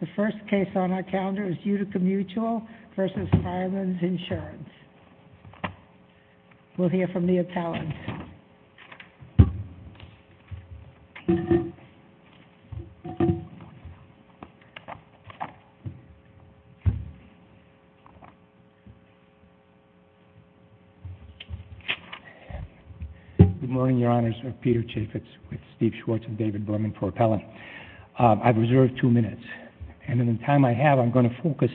The first case on our calendar is Utica Mutual versus Fireman's Insurance. We'll hear from the attorney. Good morning, Your Honors. I'm Peter Chaffetz with Steve Schwartz and David Berman for Appellant. I've reserved two minutes, and in the time I have, I'm going to focus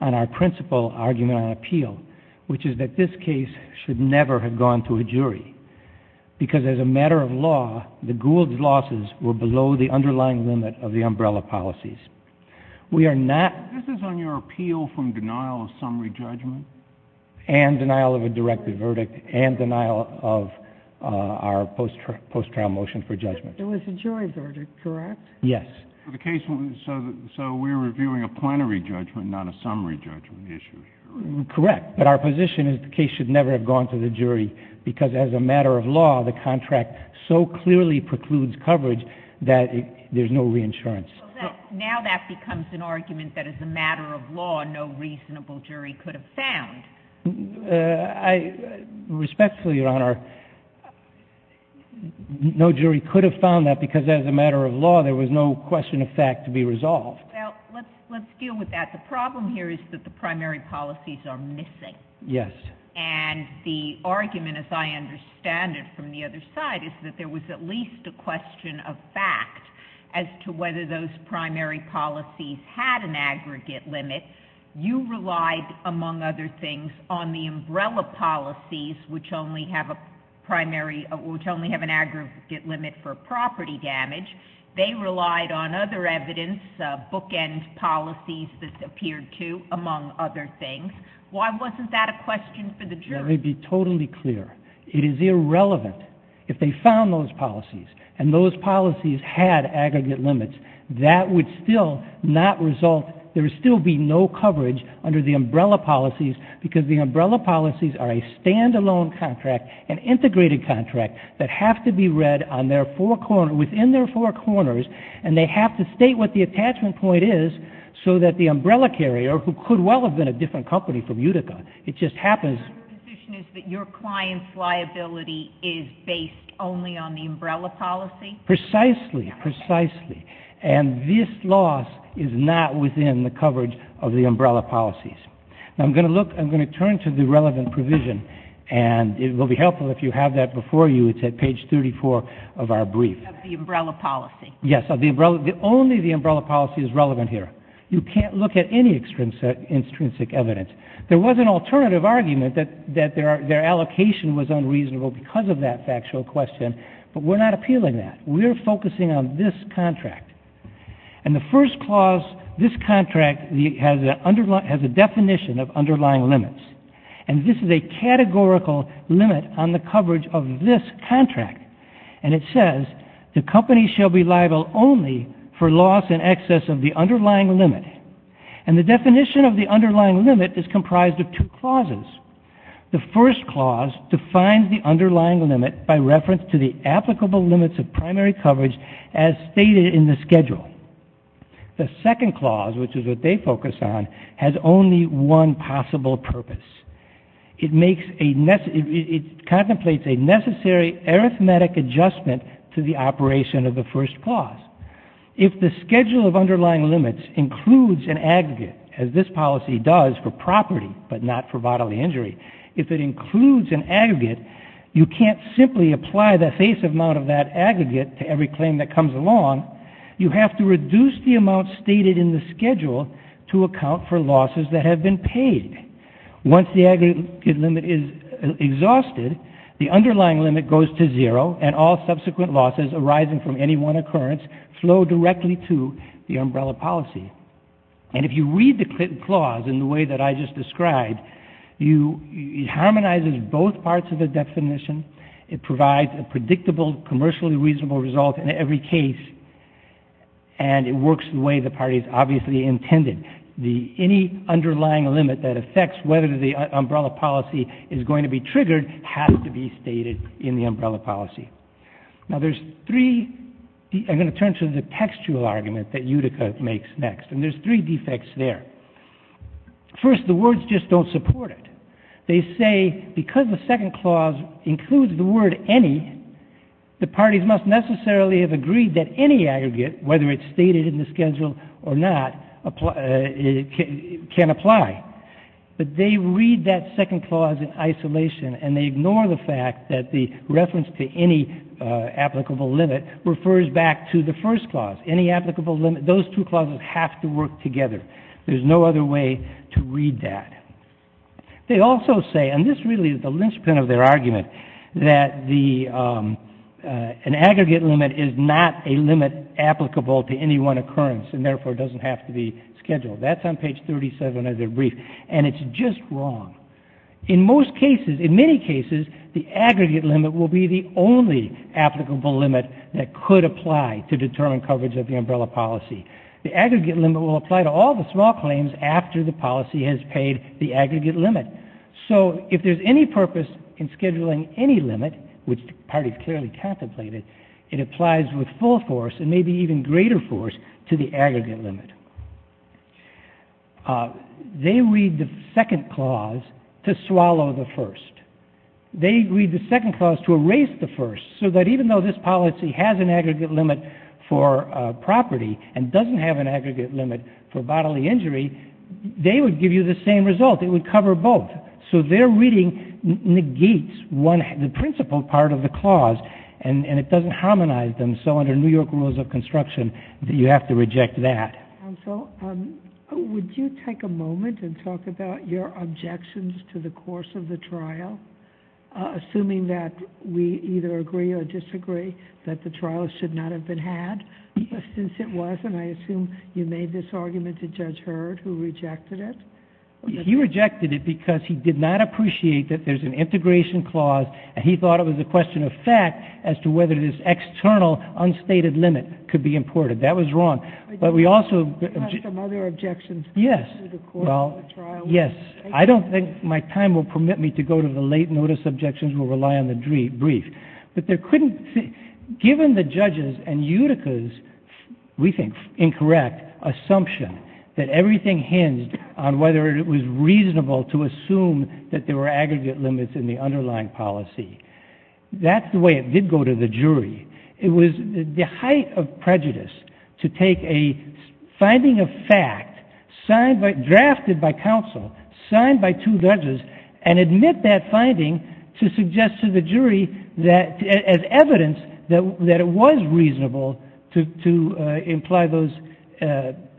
on our principal argument on appeal, which is that this case should never have gone to a jury because as a matter of law, the Gould's losses were below the underlying limit of the umbrella policies. We are not— This is on your appeal from denial of summary judgment? And denial of a directive verdict and denial of our post-trial motion for judgment. There was a jury verdict, correct? Yes. So the case—so we're reviewing a plenary judgment, not a summary judgment issue? Correct. But our position is the case should never have gone to the jury because as a matter of law, the contract so clearly precludes coverage that there's no reinsurance. So now that becomes an argument that as a matter of law, no reasonable jury could have found. Respectfully, Your Honor, no jury could have found that because as a matter of law, there was no question of fact to be resolved. Well, let's deal with that. The problem here is that the primary policies are missing. Yes. And the argument, as I understand it from the other side, is that there was at least a question of fact as to whether those primary policies had an aggregate limit. You relied, among other things, on the umbrella policies, which only have a primary—which only have an aggregate limit for property damage. They relied on other evidence, bookend policies that appeared to, among other things. Why wasn't that a question for the jury? Let me be totally clear. It is irrelevant. If they found those policies and those policies had aggregate limits, that would still not under the umbrella policies, because the umbrella policies are a standalone contract, an integrated contract, that have to be read on their four—within their four corners and they have to state what the attachment point is so that the umbrella carrier, who could well have been a different company from Utica—It just happens— So your position is that your client's liability is based only on the umbrella policy? Precisely. Precisely. And this loss is not within the coverage of the umbrella policies. Now I'm going to look—I'm going to turn to the relevant provision, and it will be helpful if you have that before you. It's at page 34 of our brief. Of the umbrella policy. Yes, of the umbrella—only the umbrella policy is relevant here. You can't look at any extrinsic evidence. There was an alternative argument that their allocation was unreasonable because of that factual question, but we're not appealing that. We're focusing on this contract. And the first clause, this contract has a definition of underlying limits. And this is a categorical limit on the coverage of this contract. And it says, the company shall be liable only for loss in excess of the underlying limit. And the definition of the underlying limit is comprised of two clauses. The first clause defines the underlying limit by reference to the applicable limits of primary coverage as stated in the schedule. The second clause, which is what they focus on, has only one possible purpose. It makes a—it contemplates a necessary arithmetic adjustment to the operation of the first clause. If the schedule of underlying limits includes an aggregate, as this policy does for property but not for bodily injury, if it includes an aggregate, you can't simply apply the aggregate to every claim that comes along. You have to reduce the amount stated in the schedule to account for losses that have been paid. Once the aggregate limit is exhausted, the underlying limit goes to zero, and all subsequent losses arising from any one occurrence flow directly to the umbrella policy. And if you read the clause in the way that I just described, you—it harmonizes both parts of the definition. It provides a predictable, commercially reasonable result in every case, and it works the way the parties obviously intended. The—any underlying limit that affects whether the umbrella policy is going to be triggered has to be stated in the umbrella policy. Now there's three—I'm going to turn to the textual argument that Utica makes next, and there's three defects there. First, the words just don't support it. They say because the second clause includes the word any, the parties must necessarily have agreed that any aggregate, whether it's stated in the schedule or not, can apply. But they read that second clause in isolation, and they ignore the fact that the reference to any applicable limit refers back to the first clause. Any applicable limit—those two clauses have to work together. There's no other way to read that. They also say, and this really is the linchpin of their argument, that the—an aggregate limit is not a limit applicable to any one occurrence, and therefore doesn't have to be scheduled. That's on page 37 of their brief, and it's just wrong. In most cases, in many cases, the aggregate limit will be the only applicable limit that could apply to determine coverage of the umbrella policy. The aggregate limit will apply to all the small claims after the policy has paid the aggregate limit. So if there's any purpose in scheduling any limit, which the party clearly contemplated, it applies with full force, and maybe even greater force, to the aggregate limit. They read the second clause to swallow the first. They read the second clause to erase the first, so that even though this policy has an aggregate limit for property and doesn't have an aggregate limit for bodily injury, they would give you the same result. It would cover both. So their reading negates one—the principal part of the clause, and it doesn't harmonize them. So under New York rules of construction, you have to reject that. Counsel, would you take a moment and talk about your objections to the course of the trial? Yes. I don't think my time will permit me to go to the late notice objections, we'll rely on the brief. But there couldn't—given the judges and Utica's, we think, incorrect assumption that everything hinged on whether it was reasonable to assume that there were aggregate limits in the underlying policy, that's the way it did go to the jury. It was the height of prejudice to take a finding of fact drafted by counsel, signed by two judges, and admit that finding to suggest to the jury that—as evidence that it was reasonable to imply those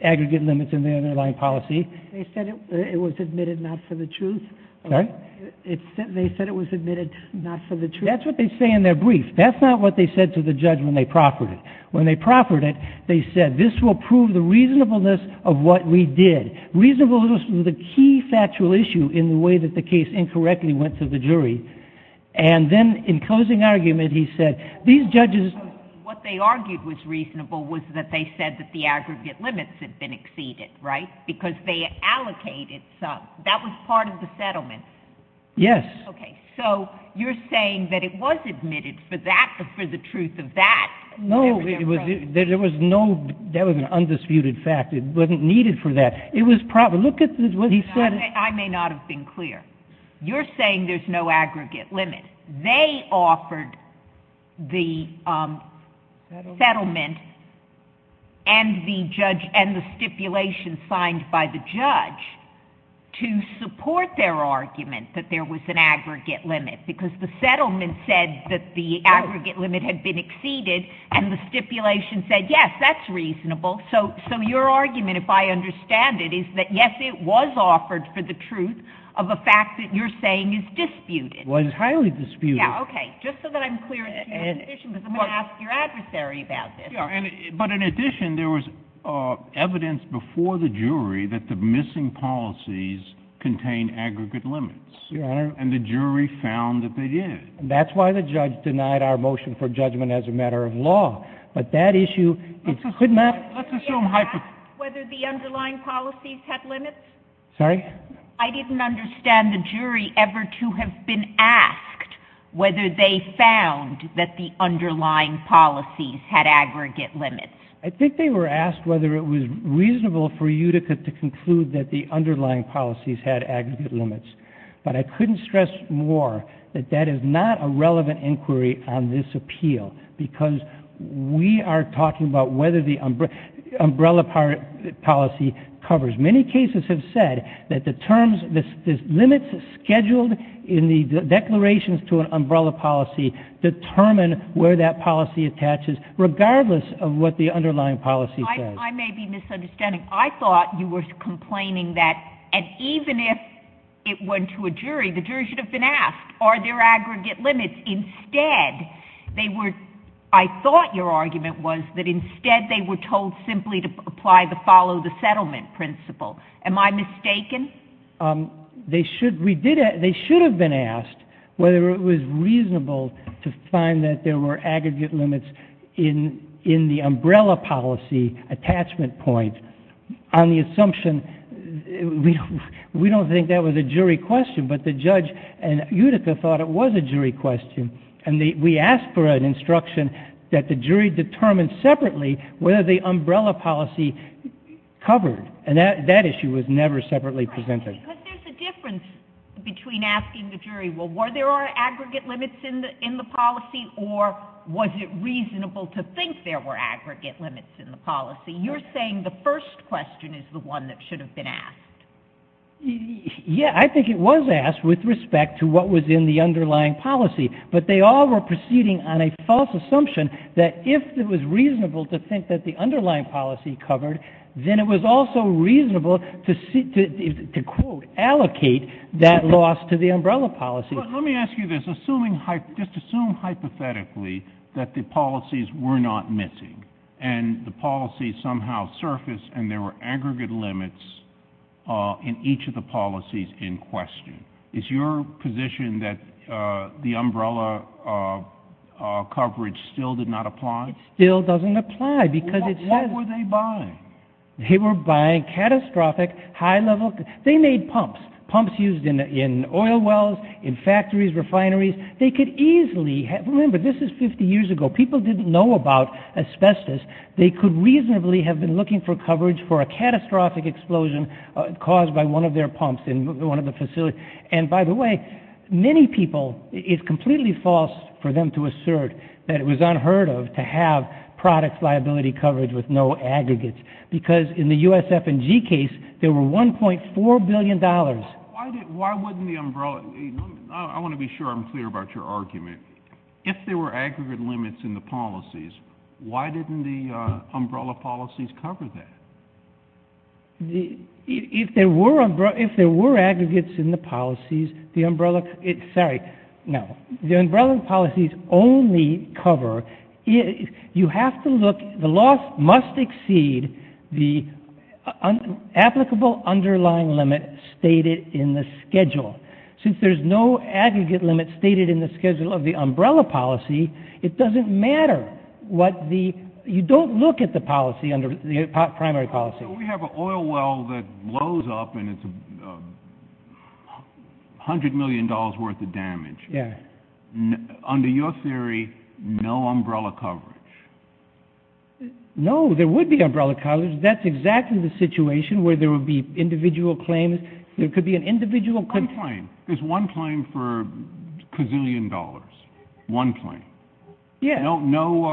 aggregate limits in the underlying policy. They said it was admitted not for the truth? Sorry? They said it was admitted not for the truth? That's what they say in their brief. That's not what they said to the judge when they proffered it. When they proffered it, they said, this will prove the reasonableness of what we did. Reasonableness was the key factual issue in the way that the case incorrectly went to the jury. And then, in closing argument, he said, these judges— What they argued was reasonable was that they said that the aggregate limits had been exceeded, right? Because they allocated some. That was part of the settlement. Yes. Okay. So, you're saying that it was admitted for that, for the truth of that? No, it was—there was no—that was an undisputed fact. It wasn't needed for that. Look at what he said. I may not have been clear. You're saying there's no aggregate limit. They offered the settlement and the stipulation signed by the judge to support their argument that there was an aggregate limit, because the settlement said that the aggregate limit had been exceeded, and the stipulation said, yes, that's reasonable. So, your argument, if I understand it, is that, yes, it was offered for the truth of a fact that you're saying is disputed. It was highly disputed. Yeah, okay. Just so that I'm clear that you have an issue, because I'm going to ask your adversary about this. Yeah. But, in addition, there was evidence before the jury that the missing policies contained aggregate limits. Your Honor— And the jury found that they did. That's why the judge denied our motion for judgment as a matter of law. But that issue— Let's assume— Did you ask whether the underlying policies had limits? Sorry? I didn't understand the jury ever to have been asked whether they found that the underlying policies had aggregate limits. I think they were asked whether it was reasonable for Utica to conclude that the underlying policies had aggregate limits. But I couldn't stress more that that is not a relevant inquiry on this appeal, because we are talking about whether the umbrella policy covers. Many cases have said that the terms—the limits scheduled in the declarations to an umbrella policy determine where that policy attaches, regardless of what the underlying policy says. I may be misunderstanding. I thought you were complaining that—and even if it went to a jury, the jury should have been asked, are there aggregate limits? Instead, they were—I thought your argument was that instead they were told simply to apply the follow-the-settlement principle. Am I mistaken? They should—we did—they should have been asked whether it was reasonable to find that there were aggregate limits in the umbrella policy attachment point on the assumption— We don't think that was a jury question, but the judge and Utica thought it was a jury question, and we asked for an instruction that the jury determine separately whether the umbrella policy covered, and that issue was never separately presented. Because there's a difference between asking the jury, well, were there aggregate limits in the policy, or was it reasonable to think there were aggregate limits in the policy? You're saying the first question is the one that should have been asked. Yeah, I think it was asked with respect to what was in the underlying policy, but they all were proceeding on a false assumption that if it was reasonable to think that the underlying policy covered, then it was also reasonable to, quote, allocate that loss to the umbrella policy. Let me ask you this. Assuming—just assume hypothetically that the policies were not missing, and the policies somehow surfaced, and there were aggregate limits in each of the policies in question, is your position that the umbrella coverage still did not apply? It still doesn't apply, because it says— What were they buying? They were buying catastrophic, high-level—they made pumps, pumps used in oil wells, in factories, refineries. They could easily—remember, this is 50 years ago. People didn't know about asbestos. They could reasonably have been looking for coverage for a catastrophic explosion caused by one of their pumps in one of the facilities. And by the way, many people—it's completely false for them to assert that it was unheard of to have product liability coverage with no aggregates, because in the USF&G case, there were $1.4 billion. Why didn't—why wouldn't the umbrella—I want to be sure I'm clear about your argument. If there were aggregate limits in the policies, why didn't the umbrella policies cover that? If there were aggregates in the policies, the umbrella—sorry, no. The umbrella policies only cover—you have to look—the loss must exceed the applicable underlying limit stated in the schedule. Since there's no aggregate limit stated in the schedule of the umbrella policy, it doesn't matter what the—you don't look at the policy under—the primary policy. We have an oil well that blows up and it's $100 million worth of damage. Yeah. Under your theory, no umbrella coverage. No, there would be umbrella coverage. That's exactly the situation where there would be individual claims. One claim. There's one claim for a gazillion dollars. One claim. Yeah. No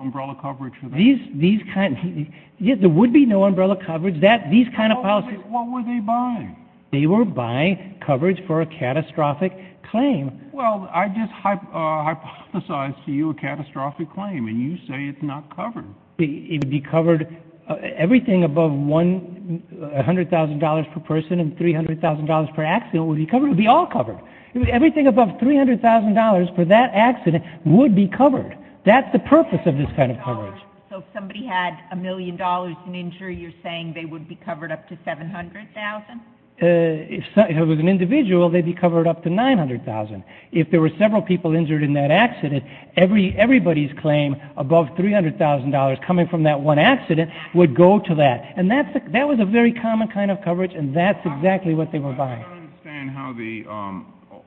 umbrella coverage for that. These kind—yeah, there would be no umbrella coverage. These kind of policies— What were they buying? They were buying coverage for a catastrophic claim. Well, I just hypothesized to you a catastrophic claim and you say it's not covered. It would be covered—everything above $100,000 per person and $300,000 per accident would be covered. It would be all covered. Everything above $300,000 for that accident would be covered. That's the purpose of this kind of coverage. So if somebody had a million dollars in injury, you're saying they would be covered up to $700,000? If it was an individual, they'd be covered up to $900,000. If there were several people injured in that accident, everybody's claim above $300,000 coming from that one accident would go to that. And that was a very common kind of coverage and that's exactly what they were buying. I don't understand how the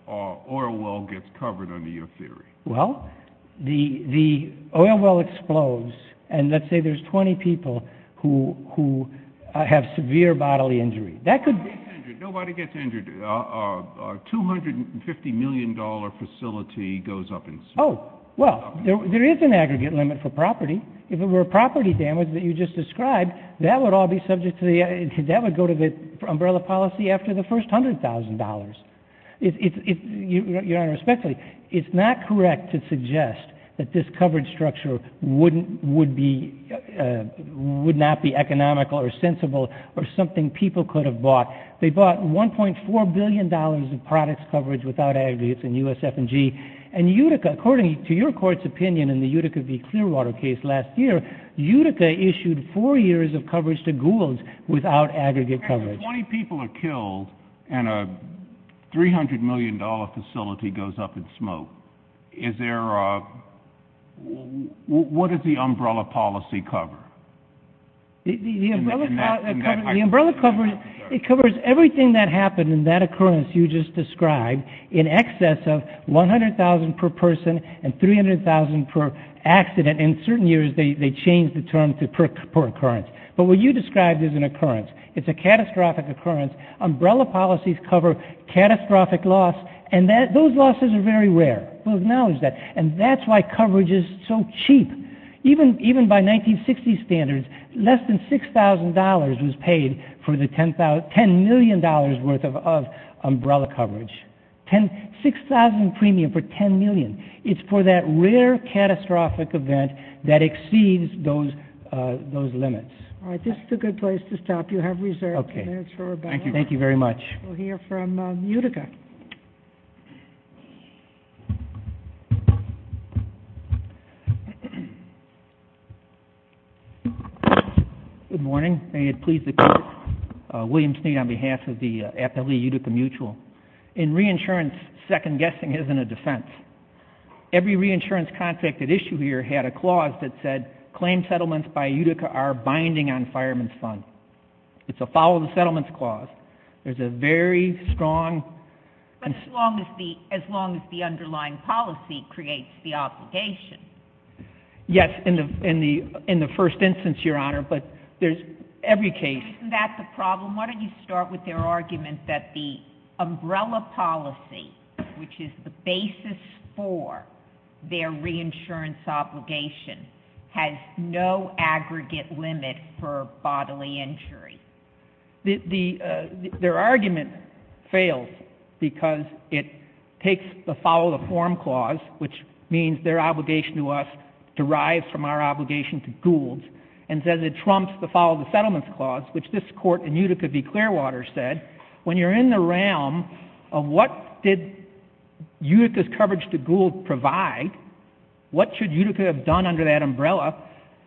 oil well gets covered under your theory. Well, the oil well explodes and let's say there's 20 people who have severe bodily injury. Nobody gets injured. Our $250 million facility goes up in smoke. Oh, well, there is an aggregate limit for property. If it were property damage that you just described, that would all be subject to the— that would go to the umbrella policy after the first $100,000. Your Honor, respectfully, it's not correct to suggest that this coverage structure would not be economical or sensible or something people could have bought. They bought $1.4 billion of products coverage without aggregates in USF&G. And Utica, according to your court's opinion in the Utica v. Clearwater case last year, Utica issued four years of coverage to Goulds without aggregate coverage. If 20 people are killed and a $300 million facility goes up in smoke, is there a—what does the umbrella policy cover? The umbrella covers everything that happened in that occurrence you just described in excess of $100,000 per person and $300,000 per accident. In certain years, they change the term to per occurrence. But what you described is an occurrence. It's a catastrophic occurrence. Umbrella policies cover catastrophic loss and those losses are very rare. We'll acknowledge that. And that's why coverage is so cheap. Even by 1960s standards, less than $6,000 was paid for the $10 million worth of umbrella coverage. $6,000 premium for $10 million. It's for that rare catastrophic event that exceeds those limits. All right. This is a good place to stop. You have reserved minutes for rebuttal. Thank you very much. We'll hear from Utica. Good morning. May it please the Court. William Sneed on behalf of the Appellee Utica Mutual. In reinsurance, second-guessing isn't a defense. Every reinsurance contract at issue here had a clause that said, claim settlements by Utica are binding on fireman's funds. It's a follow-the-settlements clause. There's a very strong— But as long as the underlying policy creates the obligation. Yes, in the first instance, Your Honor. But there's every case— Isn't that the problem? Why don't you start with their argument that the umbrella policy, which is the basis for their reinsurance obligation, has no aggregate limit for bodily injury? Their argument fails because it takes the follow-the-form clause, which means their obligation to us derives from our obligation to Gould, and says it trumps the follow-the-settlements clause, which this Court in Utica v. Clearwater said, when you're in the realm of what did Utica's coverage to Gould provide, what should Utica have done under that umbrella,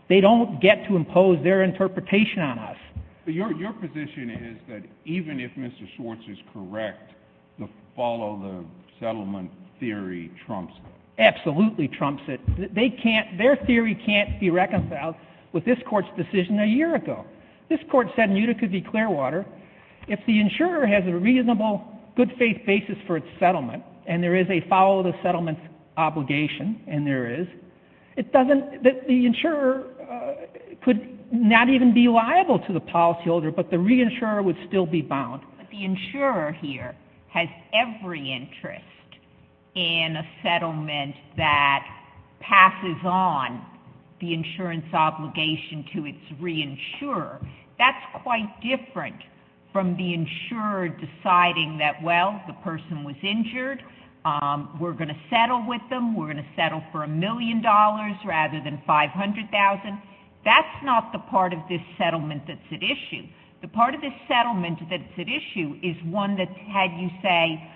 they don't get to impose their interpretation on us. But your position is that even if Mr. Schwartz is correct, the follow-the-settlement theory trumps it. Absolutely trumps it. Their theory can't be reconciled with this Court's decision a year ago. This Court said in Utica v. Clearwater, if the insurer has a reasonable, good-faith basis for its settlement, and there is a follow-the-settlements obligation, and there is, the insurer could not even be liable to the policyholder, but the reinsurer would still be bound. But the insurer here has every interest in a settlement that passes on the insurance obligation to its reinsurer. That's quite different from the insurer deciding that, well, the person was injured, we're going to settle with them, we're going to settle for $1 million rather than $500,000. That's not the part of this settlement that's at issue. The part of this settlement that's at issue is one that had you say,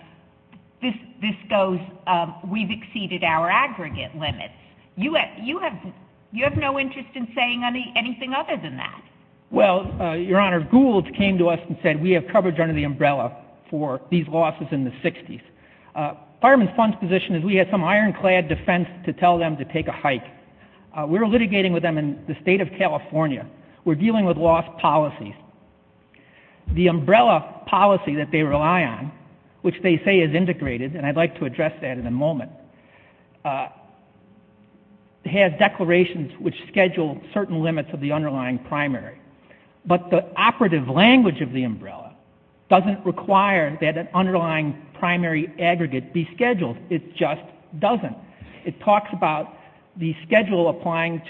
this goes, we've exceeded our aggregate limits. You have no interest in saying anything other than that. Well, Your Honor, Gould came to us and said, we have coverage under the umbrella for these losses in the 60s. Firemen Fund's position is we have some ironclad defense to tell them to take a hike. We're litigating with them in the state of California. We're dealing with loss policies. The umbrella policy that they rely on, which they say is integrated, and I'd like to address that in a moment, has declarations which schedule certain limits of the underlying primary. But the operative language of the umbrella doesn't require that an underlying primary aggregate be scheduled, it just doesn't. It talks about the schedule applying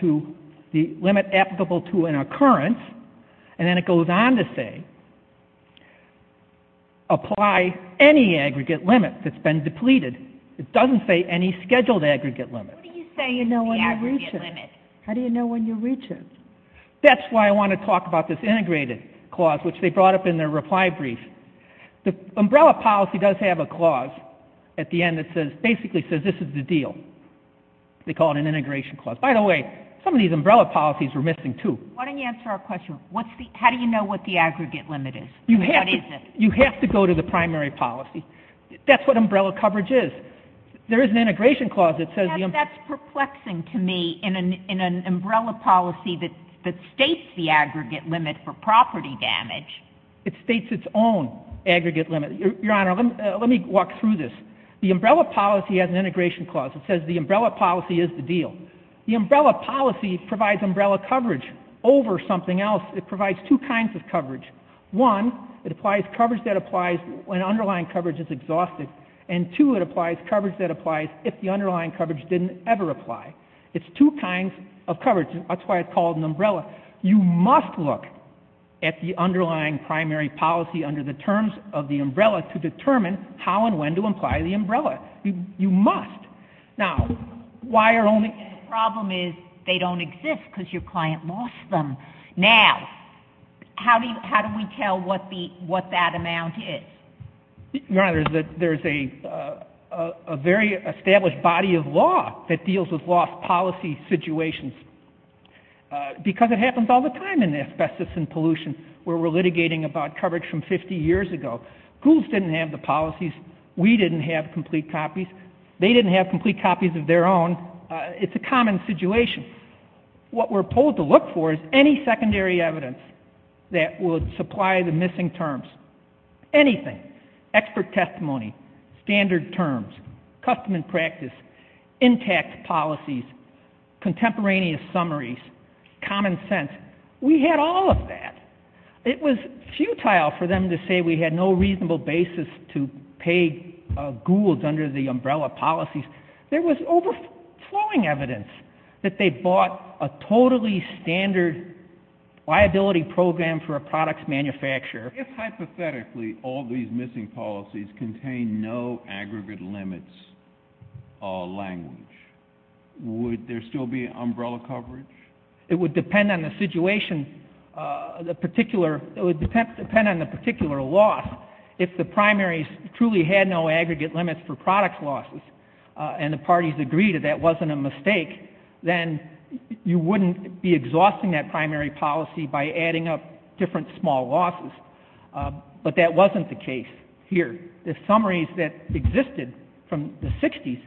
the limit applicable to an occurrence, and then it goes on to say, apply any aggregate limit that's been depleted. It doesn't say any scheduled aggregate limit. What do you say you know when you reach it? How do you know when you reach it? That's why I want to talk about this integrated clause which they brought up in their reply brief. The umbrella policy does have a clause at the end that basically says this is the deal. They call it an integration clause. By the way, some of these umbrella policies were missing too. Why don't you answer our question. How do you know what the aggregate limit is? You have to go to the primary policy. That's what umbrella coverage is. There is an integration clause that says... That's perplexing to me in an umbrella policy that states the aggregate limit for property damage. It states its own aggregate limit. Your Honor, let me walk through this. The umbrella policy has an integration clause that says the umbrella policy is the deal. The umbrella policy provides umbrella coverage over something else. It provides two kinds of coverage. One, it applies coverage that applies when underlying coverage is exhausted. And two, it applies coverage that applies if the underlying coverage didn't ever apply. It's two kinds of coverage. That's why it's called an umbrella. You must look at the underlying primary policy under the terms of the umbrella to determine how and when to apply the umbrella. You must. Now, why are only... The problem is they don't exist because your client lost them. Now, how do we tell what that amount is? Your Honor, there's a very established body of law that deals with lost policy situations because it happens all the time in asbestos and pollution where we're litigating about coverage from 50 years ago. Goulds didn't have the policies. We didn't have complete copies. They didn't have complete copies of their own. It's a common situation. What we're told to look for is any secondary evidence that would supply the missing terms. Anything. Expert testimony, standard terms, custom and practice, intact policies, contemporaneous summaries, common sense. We had all of that. It was futile for them to say we had no reasonable basis to pay Goulds under the umbrella policies. There was overflowing evidence that they bought a totally standard liability program for a product's manufacturer. If, hypothetically, all these missing policies contain no aggregate limits or language, would there still be umbrella coverage? It would depend on the situation, the particular... It would depend on the particular loss If the primaries truly had no aggregate limits for product losses and the parties agreed that that wasn't a mistake, then you wouldn't be exhausting that primary policy by adding up different small losses. But that wasn't the case here. The summaries that existed from the 60s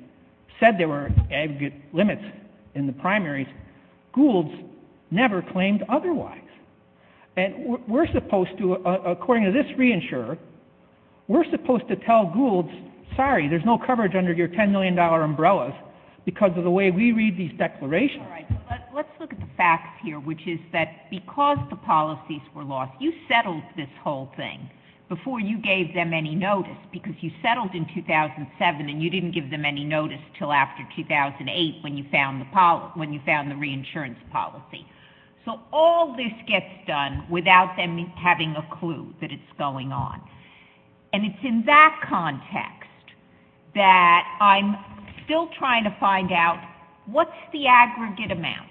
said there were aggregate limits in the primaries. Goulds never claimed otherwise. And we're supposed to, according to this reinsurer, we're supposed to tell Goulds, sorry, there's no coverage under your $10 million umbrellas because of the way we read these declarations. Let's look at the facts here, which is that because the policies were lost, you settled this whole thing before you gave them any notice because you settled in 2007 and you didn't give them any notice until after 2008 when you found the reinsurance policy. So all this gets done without them having a clue that it's going on. And it's in that context that I'm still trying to find out what's the aggregate amount?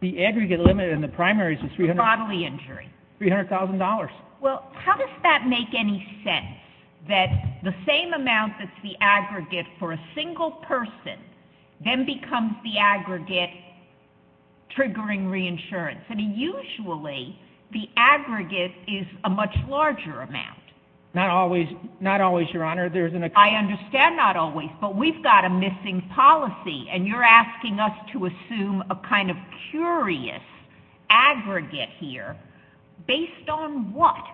The aggregate limit in the primaries is $300,000. Well, how does that make any sense that the same amount that's the aggregate for a single person then becomes the aggregate triggering reinsurance? I mean, usually the aggregate is a much larger amount. Not always, Your Honor. I understand not always, but we've got a missing policy and you're asking us to assume a kind of curious aggregate here based on what?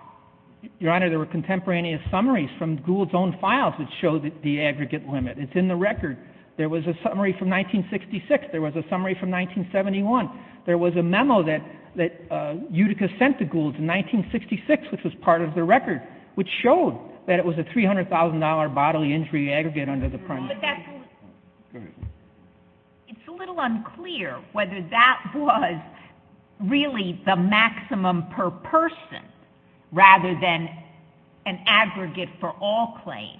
Your Honor, there were contemporaneous summaries from Gould's own files that show the aggregate limit. It's in the record. There was a summary from 1966. There was a summary from 1971. There was a memo that Utica sent to Gould's in 1966 which was part of the record which showed that it was a $300,000 bodily injury aggregate under the primary. It's a little unclear whether that was really the maximum per person rather than an aggregate for all claims.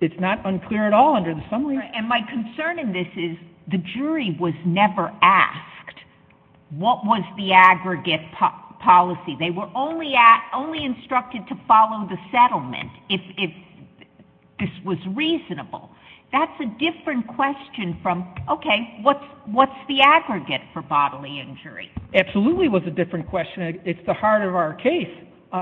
It's not unclear at all under the summary. And my concern in this is the jury was never asked what was the aggregate policy. They were only instructed to follow the settlement if this was reasonable. That's a different question from, okay, what's the aggregate for bodily injury? Absolutely was a different question. It's the heart of our case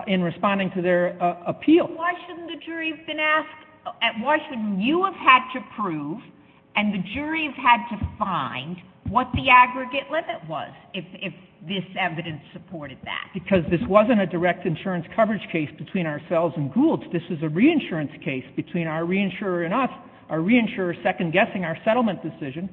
in responding to their appeal. Why shouldn't the jury have been asked Why shouldn't you have had to prove and the jury have had to find what the aggregate limit was if this evidence supported that? Because this wasn't a direct insurance coverage case between ourselves and Gould's. This was a reinsurance case between our reinsurer and us. Our reinsurer second guessing our settlement decision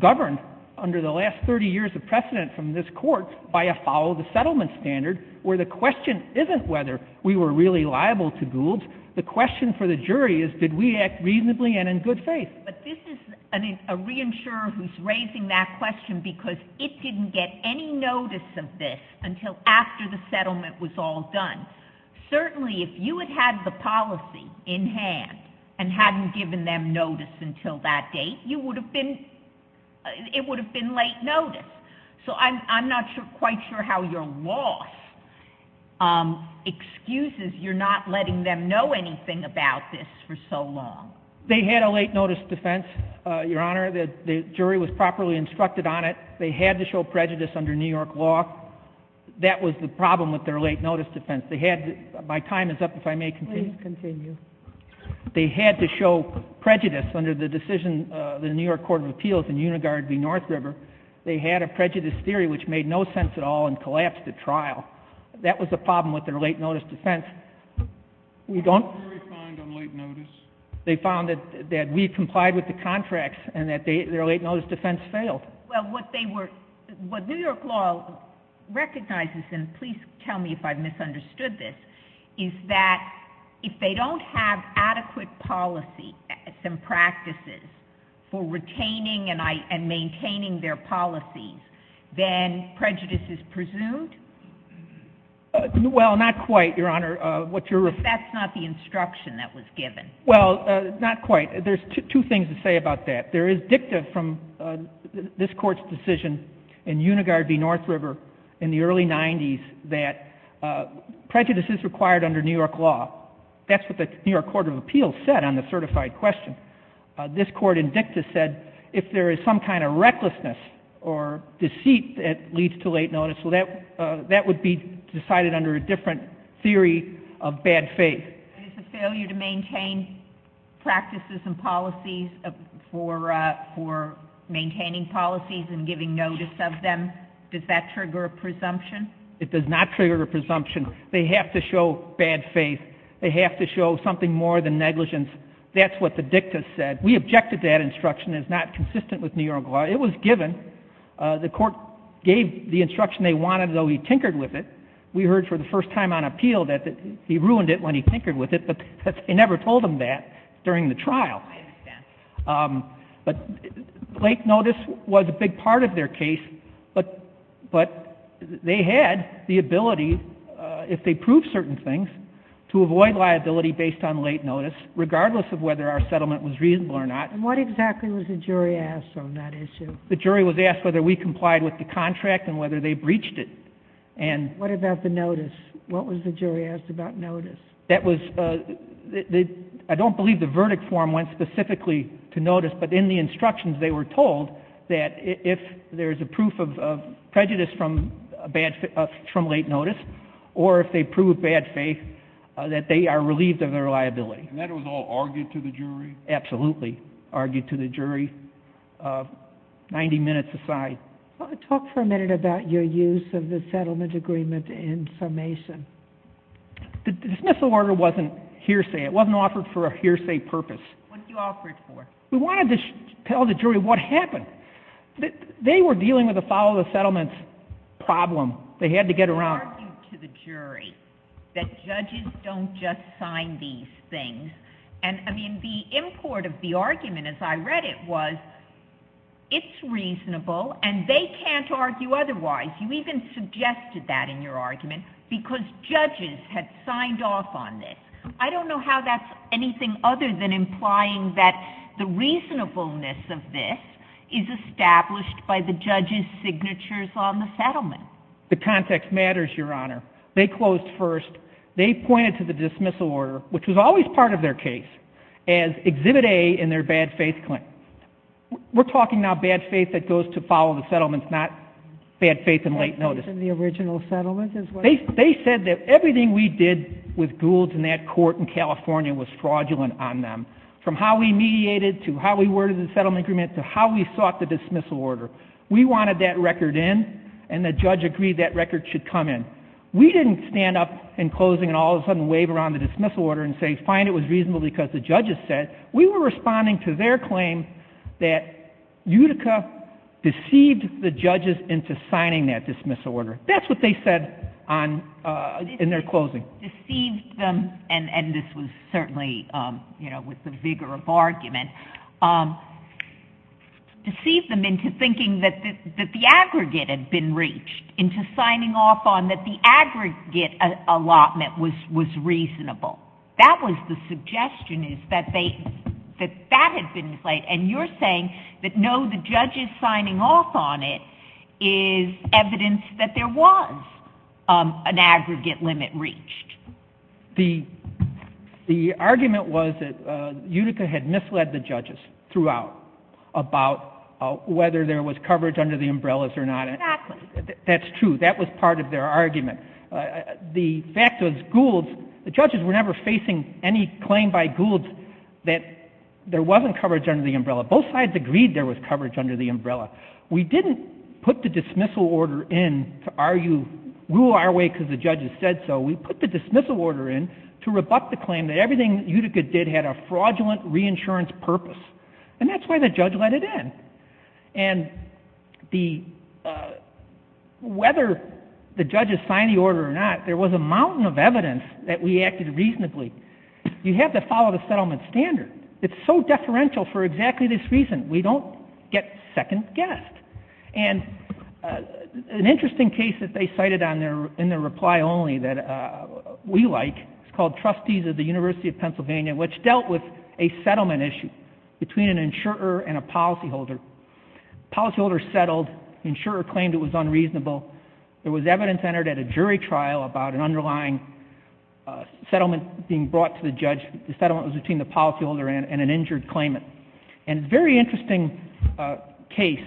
governed under the last 30 years of precedent from this court by a follow the settlement standard where the question isn't whether we were really liable to Gould's. The question for the jury is did we act reasonably and in good faith? But this is a reinsurer who's raising that question because it didn't get any notice of this until after the settlement was all done. Certainly if you had had the policy in hand and hadn't given them notice until that date, it would have been late notice. I'm not quite sure how your loss excuses you're not letting them know anything about this for so long. They had a late notice defense, Your Honor. The jury was properly instructed on it. They had to show prejudice under New York law. That was the problem with their late notice defense. My time is up if I may continue. Please continue. They had to show prejudice under the decision of the New York Court of Appeals in Unigard v. North River. They had a prejudice theory which made no sense at all and that was the problem with their late notice defense. We don't... They found that we complied with the contracts and that their late notice defense failed. Well, what they were... What New York law recognizes and please tell me if I've misunderstood this, is that if they don't have adequate policy and practices for retaining and maintaining their policies, then prejudice is Well, not quite, Your Honor. That's not the instruction that was given. Well, not quite. There's two things to say about that. There is dicta from this court's decision in Unigard v. North River in the early 90's that prejudice is required under New York law. That's what the New York Court of Appeals said on the certified question. This court in dicta said if there is some kind of recklessness or deceit that leads to late notice so that would be decided under a different theory of bad faith. It's a failure to maintain practices and policies for maintaining policies and giving notice of them. Does that trigger a presumption? It does not trigger a presumption. They have to show bad faith. They have to show something more than negligence. That's what the dicta said. We objected to that instruction. It's not consistent with New York law. It was given. The court gave the instruction they wanted though he tinkered with it. We heard for the first time on appeal that he ruined it when he tinkered with it but they never told him that during the trial. Late notice was a big part of their case but they had the ability if they proved certain things regardless of whether our settlement was reasonable or not. And what exactly was the jury asked on that issue? The jury was asked whether we complied with the contract and whether they breached it. What about the notice? What was the jury asked about notice? I don't believe the verdict form went specifically to notice but in the instructions they were told that if there is a proof of prejudice from late notice or if they proved bad faith that they are relieved of their liability. And that was all argued to the jury? Absolutely. Argued to the jury 90 minutes aside. Talk for a minute about your use of the settlement agreement in summation. The dismissal order wasn't hearsay. It wasn't offered for a hearsay purpose. What did you offer it for? We wanted to tell the jury what happened. They were dealing with a follow the settlements problem. They had to get around. They argued to the jury that judges don't just sign these things and I mean the import of the argument as I read it was it's reasonable and they can't argue otherwise. You even suggested that in your argument because judges had signed off on this. I don't know how that's anything other than implying that the reasonableness of this is established by the judges' signatures on the settlement. The context matters, Your Honor. They closed first. They pointed to the dismissal order, which was always part of their case, as exhibit A in their bad faith claim. We're talking now bad faith that goes to follow the settlements, not bad faith in late notice. Bad faith in the original settlement? They said that everything we did with Goulds and that court in California was fraudulent on them from how we mediated to how we worded the settlement agreement to how we sought the dismissal order. We wanted that record in and the judge agreed that record should come in. We didn't stand up in closing and all of a sudden wave around the dismissal order and say, fine, it was reasonable because the judges said. We were responding to their claim that Utica deceived the judges into signing that dismissal order. That's what they said in their closing. Deceived them and this was certainly with the vigor of argument, deceived them into thinking that the aggregate had been reached, into signing off on that the aggregate allotment was reasonable. That was the suggestion is that that had been played and you're saying that no, the judges signing off on it is evidence that there was an aggregate limit reached. The argument was that Utica had misled the judges throughout about whether there was coverage under the umbrella. That's true. That was part of their argument. The fact was Gould's, the judges were never facing any claim by Gould's that there wasn't coverage under the umbrella. Both sides agreed there was coverage under the umbrella. We didn't put the dismissal order in to argue, rule our way because the judges said so. We put the dismissal order in to rebut the claim that everything Utica did had a fraudulent reinsurance purpose and that's why the judge let it in and the whether the judges signed the order or not, there was a mountain of evidence that we acted reasonably. You have to follow the settlement standard. It's so deferential for exactly this reason. We don't get second guessed and an interesting case that they cited in their reply only that we like is called Trustees of the University of Pennsylvania which dealt with a settlement issue between an injured claimant and a policyholder. Policyholder settled, insurer claimed it was unreasonable. There was evidence entered at a jury trial about an underlying settlement being brought to the judge. The settlement was between the policyholder and an injured claimant and very interesting case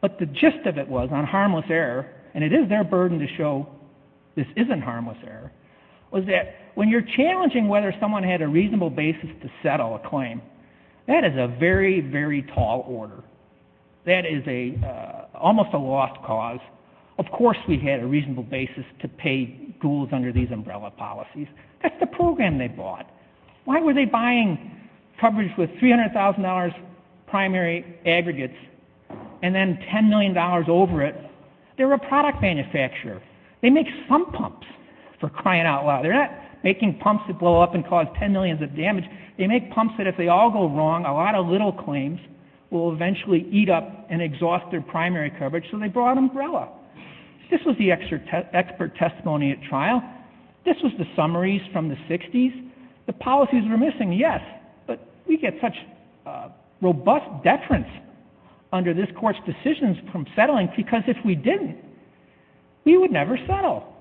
but the gist of it was on harmless error and it is their burden to show this isn't harmless error was that when you're challenging whether someone had a reasonable basis to that is a almost a lost cause. Of course we had a reasonable basis to pay ghouls under these umbrella policies. That's the program they bought. Why were they buying coverage with $300,000 primary aggregates and then $10 million over it? They're a product manufacturer. They make some pumps for crying out loud. They're not making pumps that blow up and cause $10 million of damage. They make pumps that if they all go wrong, a lot of little claims will eventually eat up and exhaust their primary coverage so they brought an umbrella. This was the expert testimony at trial. This was the summaries from the 60s. The policies were missing, yes, but we get such robust deference under this court's decisions from settling because if we didn't, we would never settle.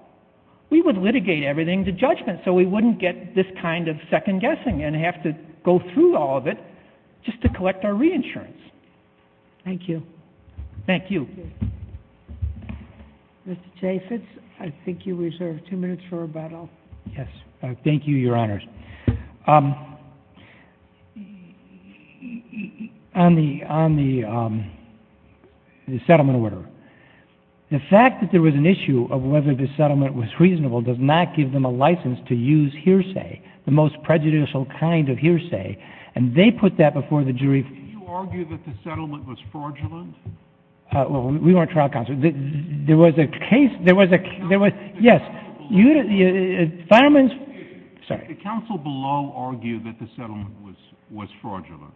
We would litigate everything to judgment so we wouldn't get this kind of second guessing and have to go through all of it just to collect our reinsurance. Thank you. Mr. Chaffetz, I think you reserved two minutes for rebuttal. Thank you, Your Honors. On the settlement order, the fact that there was an issue of whether the settlement was reasonable does not give them a license to use hearsay, the most prejudicial kind of hearsay, and they put that before the jury. Did you argue that the settlement was fraudulent? We weren't trial counsel. There was a case there was, yes, Fireman's, sorry. Did the counsel below argue that the settlement was fraudulent?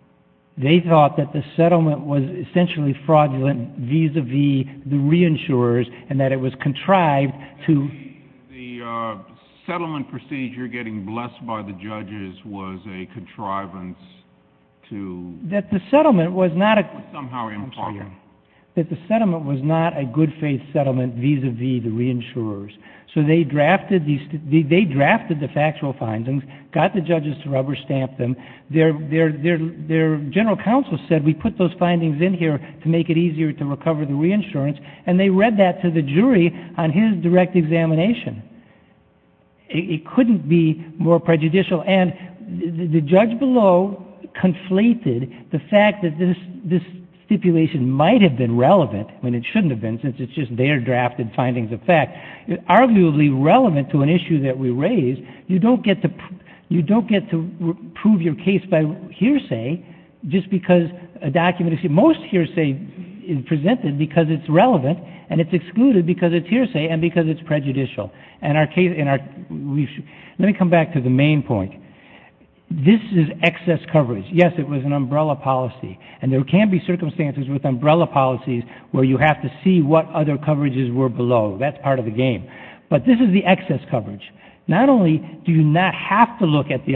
They thought that the settlement was essentially fraudulent vis-a-vis the reinsurers and that it was contrived to The settlement on prestige, you're getting blessed by the judges was a contrivance to That the settlement was not a somehow impartial. That the settlement was not a good faith settlement vis-a-vis the reinsurers. So they drafted the factual findings, got the judges to rubber stamp them. Their general counsel said we put those findings in here to make it easier to recover the reinsurance, and they read that to the jury on his direct examination. It couldn't be more prejudicial, and the judge below conflated the fact that this stipulation might have been relevant when it shouldn't have been, since it's just their drafted findings of fact. It's arguably relevant to an issue that we raised. You don't get to prove your case by hearsay just because a document, most hearsay is presented because it's relevant and it's excluded because it's hearsay and because it's prejudicial. Let me come back to the main point. This is excess coverage. Yes, it was an umbrella policy, and there can be circumstances with umbrella policies where you have to see what other coverages were below. That's part of the game. But this is the excess coverage. Not only do you not have to look at the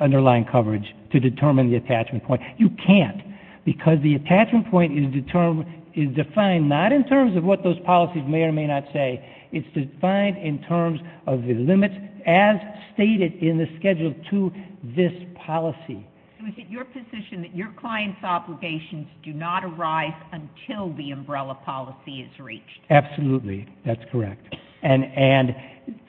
underlying coverage to determine the attachment point, you can't, because the attachment point is defined not in terms of what those policies may or may not say. It's defined in terms of the limits as stated in the schedule to this policy. Is it your position that your client's obligations do not arise until the umbrella policy is reached? Absolutely. That's correct. And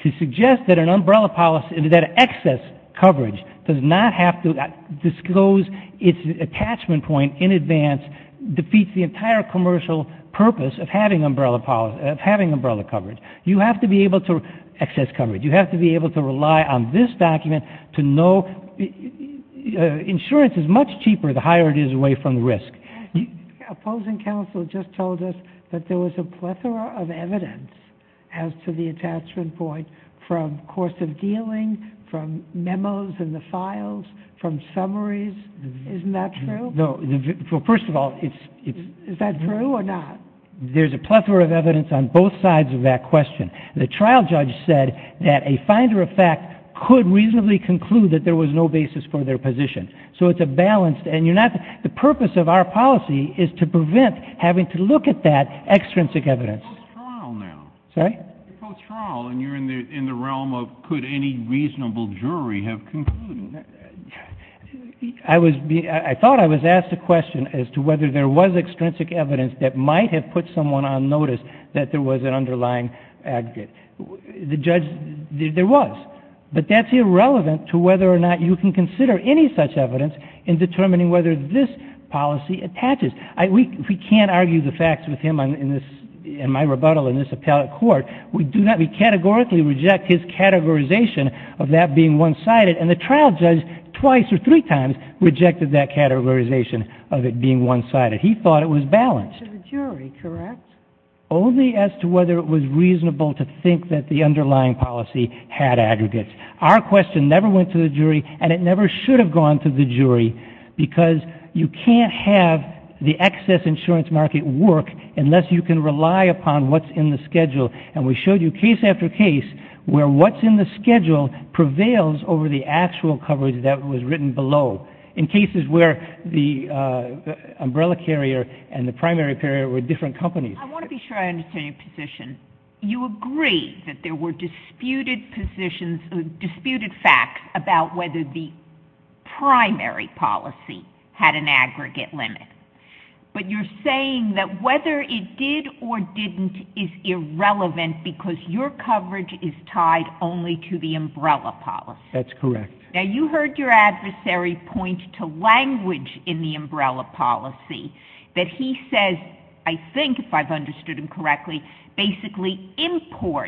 to suggest that an umbrella policy, that excess coverage does not have to disclose its attachment point in advance defeats the entire commercial purpose of having umbrella coverage. You have to be able to excess coverage. You have to be able to rely on this document to know insurance is much cheaper the higher it is away from the risk. Opposing counsel just told us that there was a plethora of evidence as to the attachment point from course of dealing, from memos in the files, from summaries. Isn't that true? First of all, is that true or not? There's a plethora of evidence on both sides of that question. The trial judge said that a finder of fact could reasonably conclude that there was no basis for their position. So it's a balanced, and you're not, the purpose of our policy is to prevent having to look at that extrinsic evidence. You're post-trial now. Sorry? You're post-trial and you're in the realm of could any reasonable jury have concluded? I thought I was asked a question as to whether there was extrinsic evidence that might have put someone on notice that there was an underlying aggregate. The judge, there was. But that's irrelevant to whether or not you can consider any such evidence in determining whether this policy attaches. We can't argue the facts with him in my rebuttal in this appellate court. We categorically reject his one-sided, and the trial judge twice or three times rejected that categorization of it being one-sided. He thought it was balanced. Only as to whether it was reasonable to think that the underlying policy had aggregates. Our question never went to the jury and it never should have gone to the jury because you can't have the excess insurance market work unless you can rely upon what's in the schedule. And we showed you case after case where what's in the schedule prevails over the actual coverage that was written below. In cases where the umbrella carrier and the primary carrier were different companies. I want to be sure I understand your position. You agree that there were disputed positions, disputed facts about whether the primary policy had an aggregate limit. But you're saying that whether it did or didn't is irrelevant because your coverage is tied only to the umbrella policy. That's correct. Now you heard your adversary point to language in the umbrella policy that he says, I think, if I've understood him correctly, basically imports